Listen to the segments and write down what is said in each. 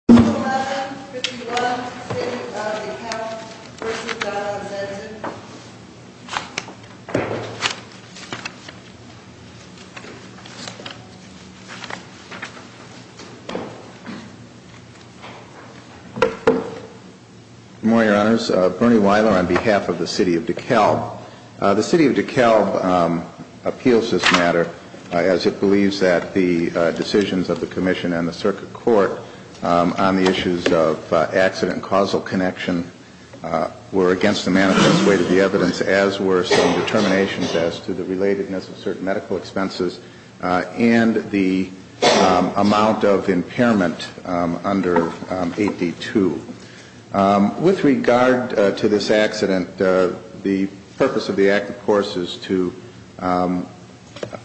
11-51, City of DeKalb v. Johnson-Senten Good morning, Your Honors. Bernie Weiler on behalf of the City of DeKalb. The City of DeKalb appeals this matter as it believes that the decisions of the Commission and the Circuit Court on the issues of accident and causal connection were against the manifest way to the evidence as were some determinations as to the relatedness of certain medical expenses and the amount of impairment under 8D2. With regard to this accident, the purpose of the Act, of course, is to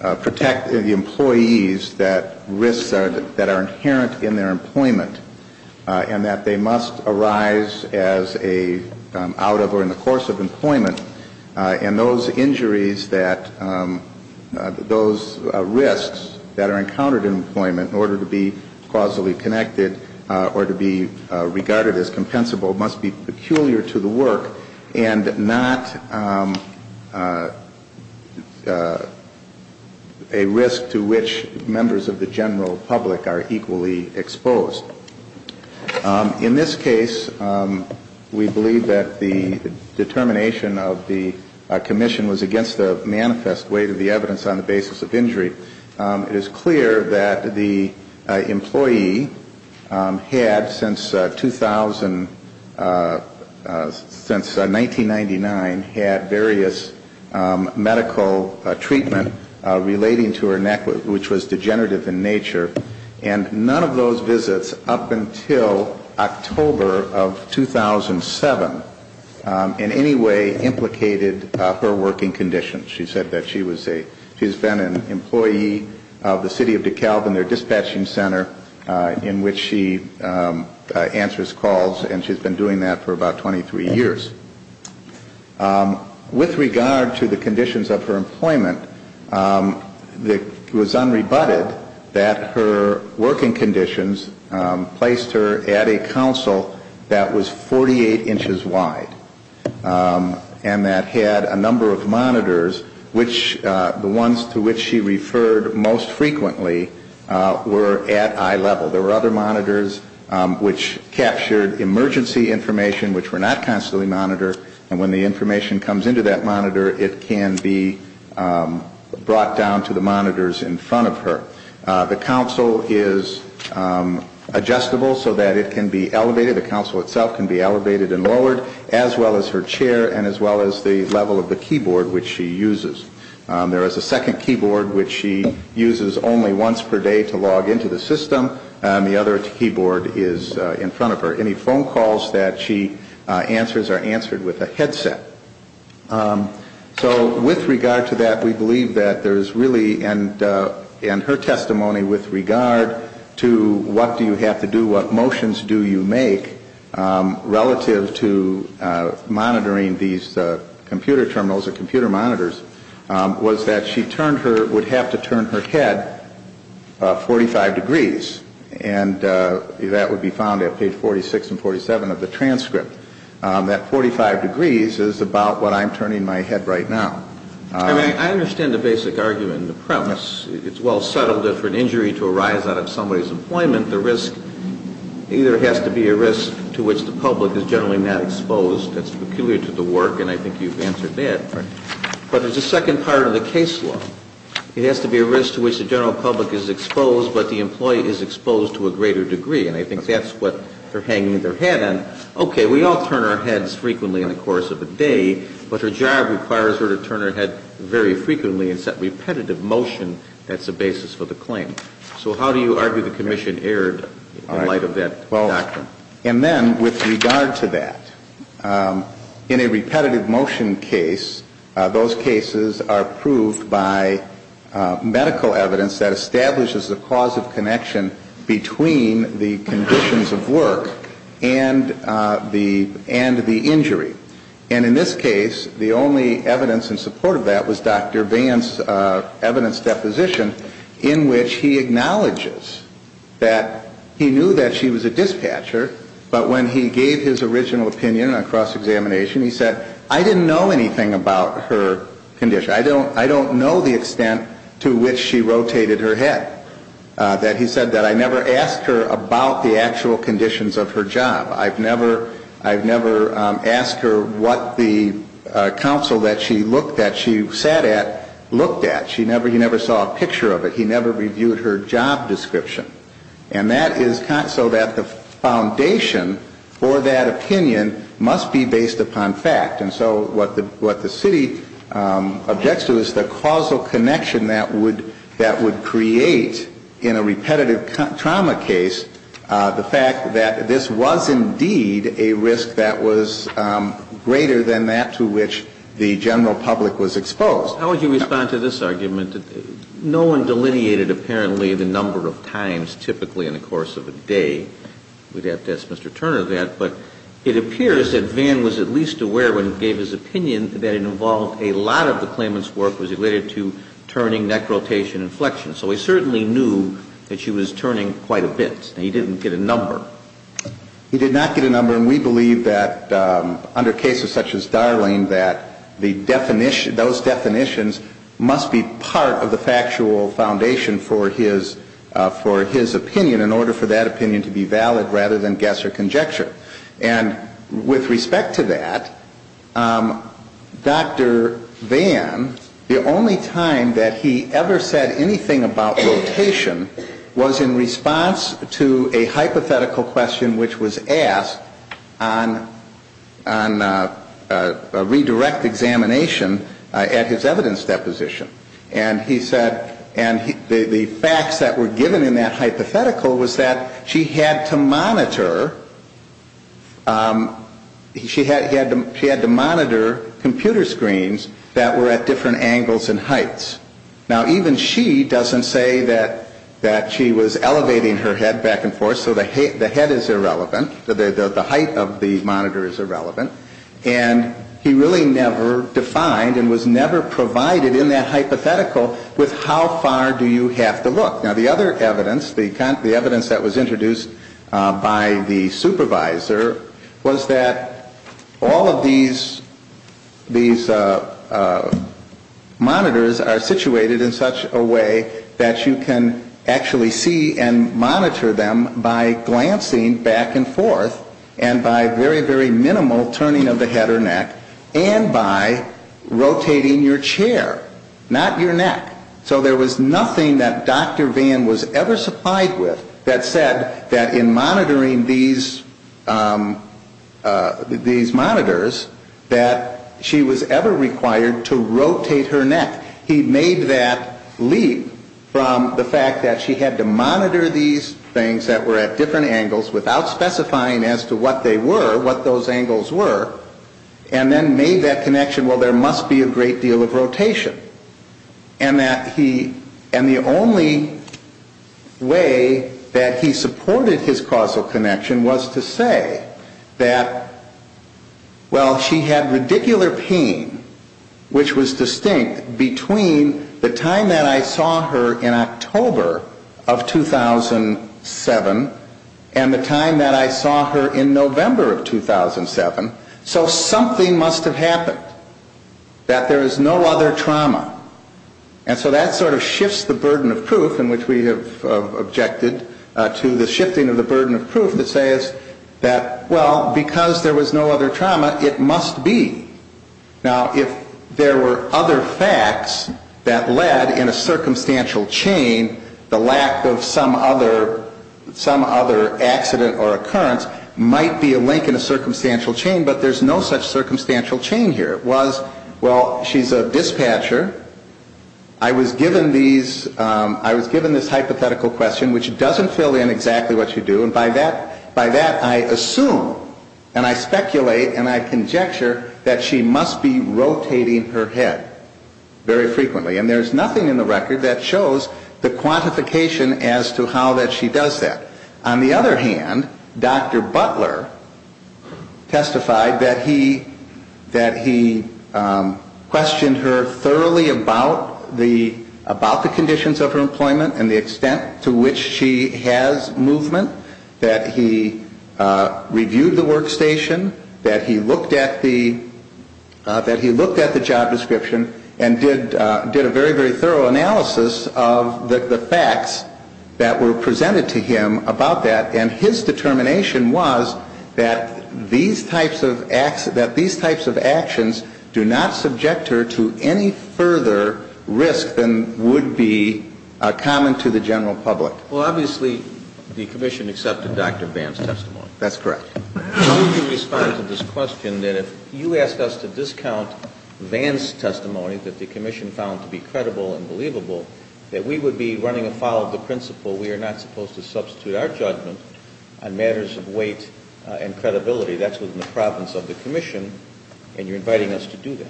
protect the employees that risks that are inherent in their employment and that they must arise as a out of or in the course of employment. And those injuries that, those risks that are encountered in employment in order to be causally connected or to be regarded as compensable must be peculiar to the work and not a risk to which members of the general public are equally exposed. In this case, we believe that the determination of the Commission was against the manifest way to the evidence on the basis of injury. It is clear that the employee had, since 2000, since 1999, had various medical treatment relating to her neck, which was degenerative in nature, and none of those visits up until October of 2007 in any way implicated her working condition. She said that she was a, she's been an employee of the City of DeKalb in their dispatching center in which she answers calls, and she's been doing that for about 23 years. With regard to the conditions of her employment, it was unrebutted that her working conditions placed her at a council that was 48 inches wide and that had a number of monitors, which the ones to which she referred most frequently were at eye level. There were other monitors which captured emergency information which were not constantly monitored, and when the information comes into that monitor, it can be brought down to the monitors in front of her. The council is adjustable so that it can be elevated, the council itself can be elevated and lowered, as well as her chair and as well as the level of the keyboard which she uses. There is a second keyboard which she uses only once per day to log into the system, and the other keyboard is in front of her. Any phone calls that she answers are answered with a headset. So with regard to that, we believe that there's really, and her testimony with regard to what do you have to do, what motions do you make relative to monitoring these computer terminals or computer monitors, was that she turned her, would have to turn her head 45 degrees, and that would be found at page 46 and 47 of the transcript. That 45 degrees is about what I'm turning my head right now. I mean, I understand the basic argument and the premise. It's well settled that for an injury to arise out of somebody's employment, the risk either has to be a risk to which the public is generally not exposed. That's peculiar to the work, and I think you've answered that. Right. But there's a second part of the case law. It has to be a risk to which the general public is exposed, but the employee is exposed to a greater degree, and I think that's what they're hanging their head in. Okay, we all turn our heads frequently in the course of a day, but her job requires her to turn her head very frequently. It's that repetitive motion that's the basis for the claim. So how do you argue the commission erred in light of that doctrine? Well, and then with regard to that, in a repetitive motion case, those cases are proved by medical evidence that establishes the cause of connection between the conditions of work and the injury. And in this case, the only evidence in support of that was Dr. Vance's evidence deposition in which he acknowledges that he knew that she was a dispatcher, but when he gave his original opinion on cross-examination, he said, I didn't know anything about her condition. I don't know the extent to which she rotated her head. He said that I never asked her about the actual conditions of her job. I've never asked her what the counsel that she looked at, she sat at, looked at. He never saw a picture of it. He never reviewed her job description. And that is so that the foundation for that opinion must be based upon fact. And so what the city objects to is the causal connection that would create in a repetitive trauma case the fact that this was indeed a risk that was greater than that to which the general public was exposed. How would you respond to this argument? No one delineated apparently the number of times typically in the course of a day. We'd have to ask Mr. Turner that. But it appears that Van was at least aware when he gave his opinion that it involved a lot of the claimant's work was related to turning, neck rotation, and flexion. So he certainly knew that she was turning quite a bit. He didn't get a number. He did not get a number. And we believe that under cases such as Darling that the definition, those definitions must be part of the factual foundation for his opinion in order for that opinion to be valid rather than guess or conjecture. And with respect to that, Dr. Van, the only time that he ever said anything about rotation was in response to a hypothetical question which was asked on a redirect examination at his evidence deposition. And he said the facts that were given in that hypothetical was that she had to monitor computer screens that were at different angles and heights. Now, even she doesn't say that she was elevating her head back and forth. So the head is irrelevant. The height of the monitor is irrelevant. And he really never defined and was never provided in that hypothetical with how far do you have to look. Now, the other evidence, the evidence that was introduced by the supervisor was that all of these monitors are situated in such a way that you can actually see and monitor them by glancing back and forth and by very, very minimal turning of the head or neck and by rotating your chair, not your neck. So there was nothing that Dr. Van was ever supplied with that said that in monitoring these monitors that she was ever required to rotate her neck. He made that leap from the fact that she had to monitor these things that were at different angles without specifying as to what they were, what those angles were, and then made that connection, well, there must be a great deal of rotation. And the only way that he supported his causal connection was to say that, well, she had radicular pain, which was distinct, between the time that I saw her in October of 2007 and the time that I saw her in November of 2007. So something must have happened, that there is no other trauma. And so that sort of shifts the burden of proof in which we have objected to the shifting of the burden of proof that says that, well, because there was no other trauma, it must be. Now, if there were other facts that led in a circumstantial chain, the lack of some other accident or occurrence might be a link in a circumstantial chain, but there's no such circumstantial chain here. It was, well, she's a dispatcher. I was given this hypothetical question, which doesn't fill in exactly what you do. And by that, I assume and I speculate and I conjecture that she must be rotating her head very frequently. And there's nothing in the record that shows the quantification as to how that she does that. On the other hand, Dr. Butler testified that he questioned her thoroughly about the conditions of her employment and the extent to which she has movement, that he reviewed the workstation, that he looked at the job description and did a very, very thorough analysis of the facts that were presented to him about that. And his determination was that these types of actions do not subject her to any further risk than would be common to the general public. Well, obviously, the Commission accepted Dr. Vance's testimony. That's correct. Can you respond to this question that if you asked us to discount Vance's testimony, that the Commission found to be credible and believable, that we would be running afoul of the principle we are not supposed to substitute our judgment on matters of weight and credibility? That's within the province of the Commission, and you're inviting us to do that.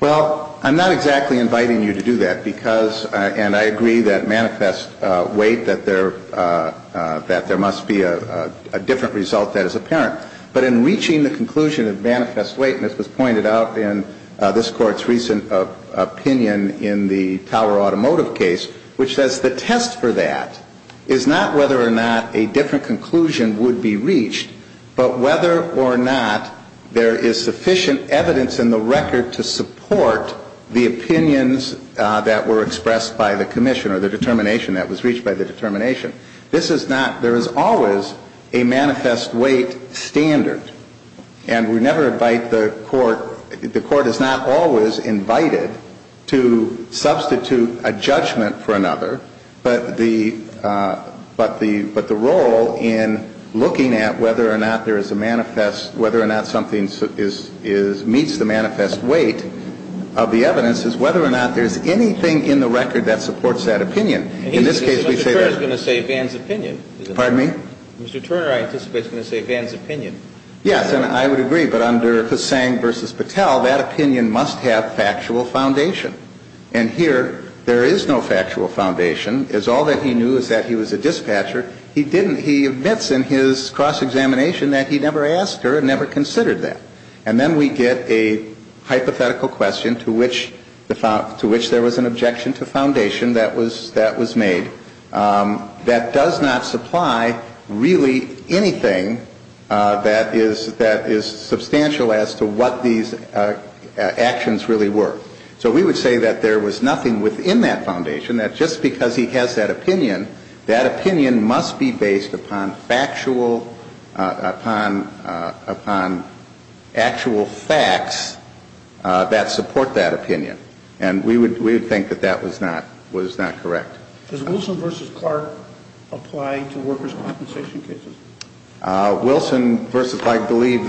Well, I'm not exactly inviting you to do that because, and I agree that manifest weight, that there must be a different result that is apparent. But in reaching the conclusion of manifest weight, and this was pointed out in this Court's recent opinion in the Tower Automotive case, which says the test for that is not whether or not a different conclusion would be reached, but whether or not there is sufficient evidence in the record to support the opinions that were expressed by the Commission or the determination that was reached by the determination, this is not, there is always a manifest weight standard. And we never invite the Court, the Court is not always invited to substitute a judgment for another, but the role in looking at whether or not there is a manifest, whether or not something meets the manifest weight of the evidence is whether or not there is anything in the record that supports that opinion. In this case, we say that. Mr. Turner is going to say Vann's opinion. Pardon me? Mr. Turner, I anticipate, is going to say Vann's opinion. Yes. And I would agree. But under Hussain v. Patel, that opinion must have factual foundation. And here there is no factual foundation. It's all that he knew is that he was a dispatcher. He didn't. He admits in his cross-examination that he never asked her and never considered that. And then we get a hypothetical question to which there was an objection to foundation that was made that does not supply really anything that is substantial as to what these actions really were. So we would say that there was nothing within that foundation, that just because he has that opinion, that opinion must be based upon factual, upon actual facts that support that opinion. And we would think that that was not correct. Does Wilson v. Clark apply to workers' compensation cases? Wilson v. Clark, I believe,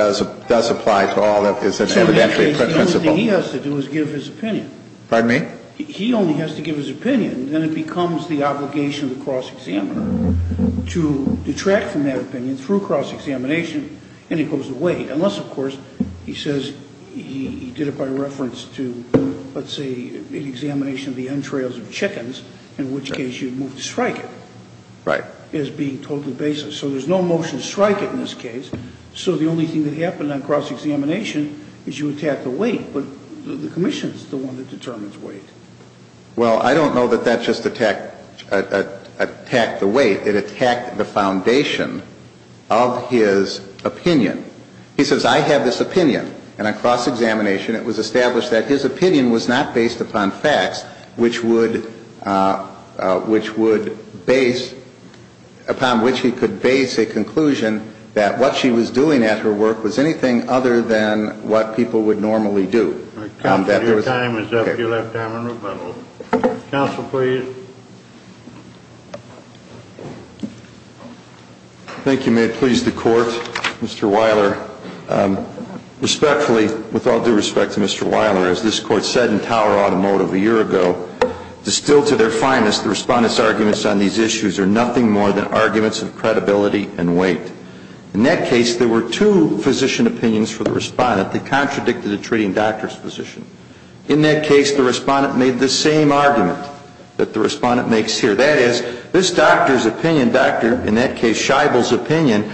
does apply to all that is evidently a principle. The only thing he has to do is give his opinion. Pardon me? He only has to give his opinion, and then it becomes the obligation of the cross-examiner to detract from that opinion through cross-examination, and it goes away, unless, of course, he says he did it by reference to, let's say, an examination of the entrails of chickens, in which case you move to strike it. Right. As being totally baseless. So there's no motion to strike it in this case. So the only thing that happened on cross-examination is you attack the weight, but the commission is the one that determines weight. Well, I don't know that that just attacked the weight. It attacked the foundation of his opinion. He says I have this opinion, and on cross-examination it was established that his opinion was not based upon facts which would base, upon which he could base a conclusion that what she was doing at her work was anything other than what people would normally do. Your time is up. You'll have time for rebuttal. Counsel, please. Thank you. May it please the Court. Mr. Weiler, respectfully, with all due respect to Mr. Weiler, as this Court said in Tower Automotive a year ago, distilled to their finest, the Respondent's arguments on these issues are nothing more than arguments of credibility and weight. In that case, there were two physician opinions for the Respondent that contradicted a treating doctor's position. In that case, the Respondent made the same argument that the Respondent makes here. That is, this doctor's opinion, Dr. in that case Scheibel's opinion,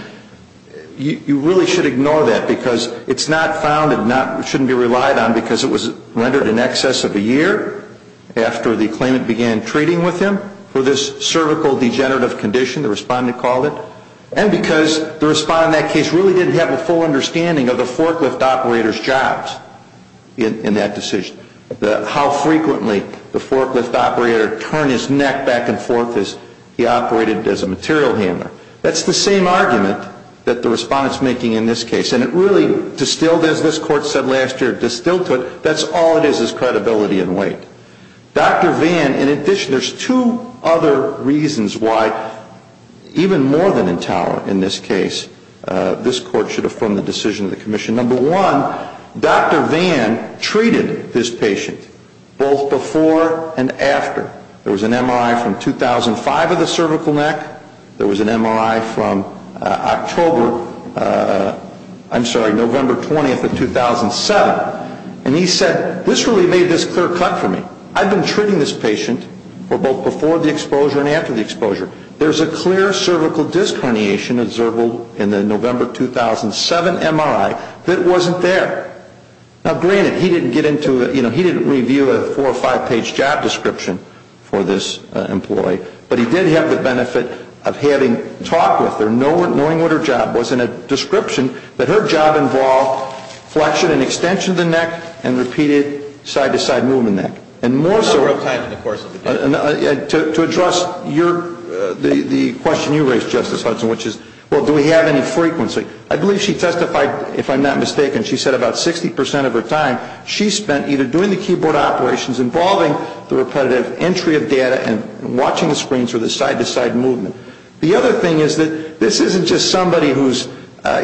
you really should ignore that because it's not founded, shouldn't be relied on because it was rendered in excess of a year after the claimant began treating with him for this cervical degenerative condition, the Respondent called it, and because the Respondent in that case really didn't have a full understanding of the forklift operator's jobs in that decision, how frequently the forklift operator turned his neck back and forth as he operated as a material handler. That's the same argument that the Respondent's making in this case. And it really distilled, as this Court said last year, distilled to it, that's all it is is credibility and weight. Dr. Vann, in addition, there's two other reasons why, even more than in Tower in this case, this Court should affirm the decision of the Commission. Number one, Dr. Vann treated this patient both before and after. There was an MRI from 2005 of the cervical neck. There was an MRI from October, I'm sorry, November 20th of 2007. And he said, this really made this clear cut for me. I've been treating this patient for both before the exposure and after the exposure. There's a clear cervical disc herniation observable in the November 2007 MRI that wasn't there. Now, granted, he didn't get into, you know, he didn't review a four- or five-page job description for this employee, but he did have the benefit of having talked with her, knowing what her job was, and a description that her job involved flexion and extension of the neck and repeated side-to-side movement of the neck. And more so to address the question you raised, Justice Hudson, which is, well, do we have any frequency? I believe she testified, if I'm not mistaken, she said about 60 percent of her time, she spent either doing the keyboard operations involving the repetitive entry of data and watching the screens or the side-to-side movement. The other thing is that this isn't just somebody who's,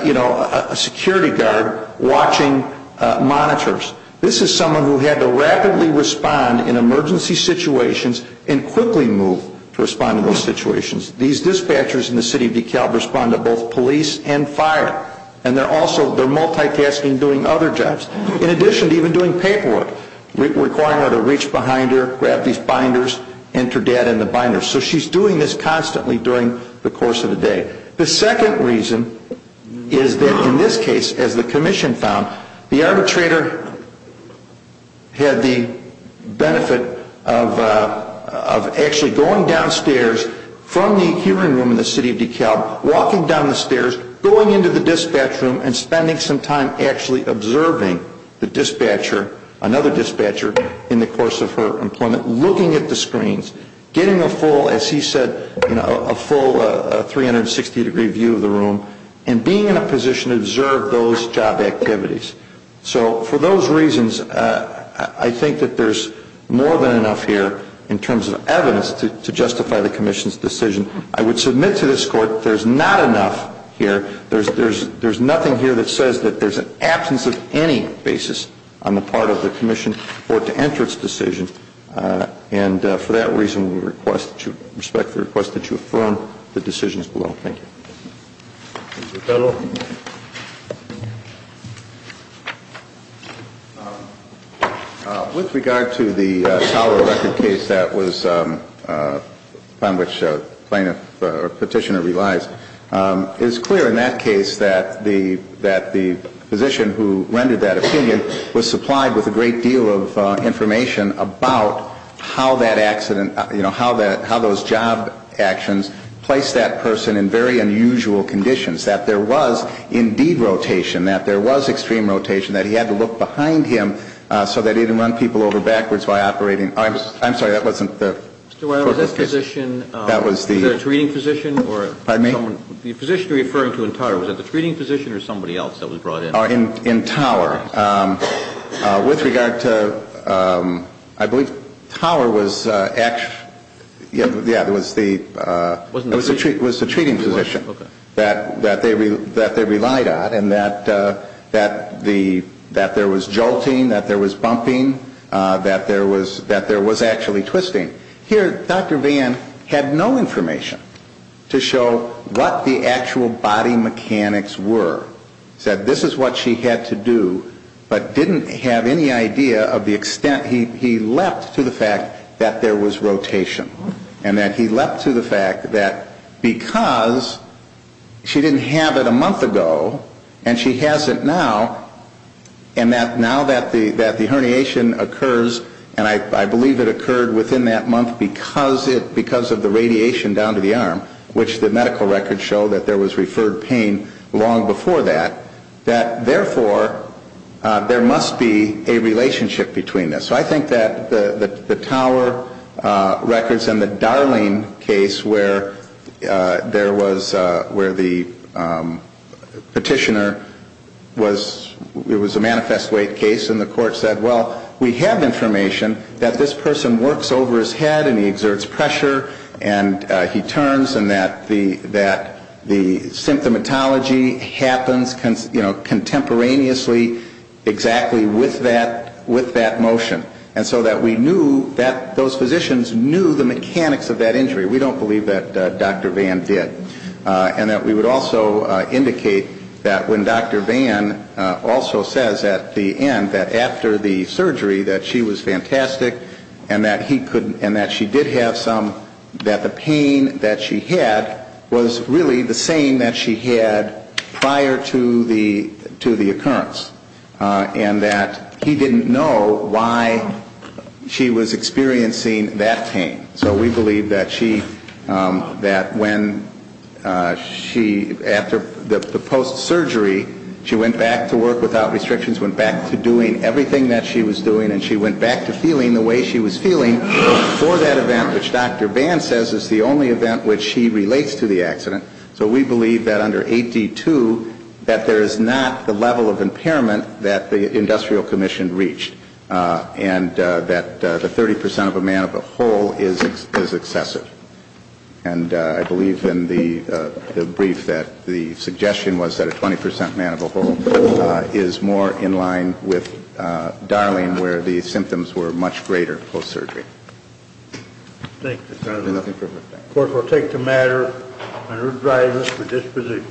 you know, a security guard watching monitors. This is someone who had to rapidly respond in emergency situations and quickly move to respond to those situations. These dispatchers in the city of DeKalb respond to both police and fire. And they're also, they're multitasking doing other jobs. In addition to even doing paperwork, requiring her to reach behind her, grab these binders, enter data in the binders. So she's doing this constantly during the course of the day. The second reason is that in this case, as the commission found, the arbitrator had the benefit of actually going downstairs from the hearing room in the city of DeKalb, walking down the stairs, going into the dispatch room and spending some time actually observing the dispatcher, another dispatcher, in the course of her employment, looking at the screens, getting a full, as he said, you know, a full 360-degree view of the room and being in a position to observe those job activities. So for those reasons, I think that there's more than enough here in terms of evidence to justify the commission's decision. I would submit to this Court that there's not enough here. There's nothing here that says that there's an absence of any basis on the part of the commission for it to enter its decision. And for that reason, we request, respect the request that you affirm the decisions below. Thank you. Thank you, fellow. With regard to the Tower of Record case that was upon which plaintiff or petitioner relies, it is clear in that case that the physician who rendered that opinion was supplied with a great deal of information about how that accident, you know, how those job actions placed that person in very unusual conditions, that there was indeed rotation, that there was extreme rotation, that he had to look behind him so that he didn't run people over backwards while operating. I'm sorry, that wasn't the court case. Mr. Weiler, was that physician, was that a treating physician? Pardon me? The physician you're referring to in Tower, was that the treating physician or somebody else that was brought in? In Tower. With regard to, I believe Tower was, yeah, it was the treating physician. Okay. That they relied on and that there was jolting, that there was bumping, that there was actually twisting. Here, Dr. Vann had no information to show what the actual body mechanics were. He said this is what she had to do, but didn't have any idea of the extent, he leapt to the fact that there was rotation. And that he leapt to the fact that because she didn't have it a month ago and she has it now, and now that the herniation occurs, and I believe it occurred within that month because of the radiation down to the arm, which the medical records show that there was referred pain long before that, that therefore there must be a relationship between this. So I think that the Tower records and the Darling case where there was, where the petitioner was, it was a manifest weight case and the court said, well, we have information that this person works over his head and he exerts pressure and he turns and that the symptomatology happens contemporaneously exactly with that motion. And so that we knew that those physicians knew the mechanics of that injury. We don't believe that Dr. Vann did. And that we would also indicate that when Dr. Vann also says at the end that after the surgery that she was fantastic and that she did have some, that the pain that she had was really the same that she had prior to the occurrence. And that he didn't know why she was experiencing that pain. So we believe that when she, after the post-surgery, she went back to work without restrictions, went back to doing everything that she was doing and she went back to feeling the way she was feeling before that event, which Dr. Vann says is the only event which he relates to the accident. So we believe that under 8D2 that there is not the level of impairment that the industrial commission reached. And that the 30 percent of a man of a whole is excessive. And I believe in the brief that the suggestion was that a 20 percent man of a whole is more in line with Darling where the symptoms were much greater post-surgery. Thank you, counsel. Nothing further. The court will take the matter under driver for disposition.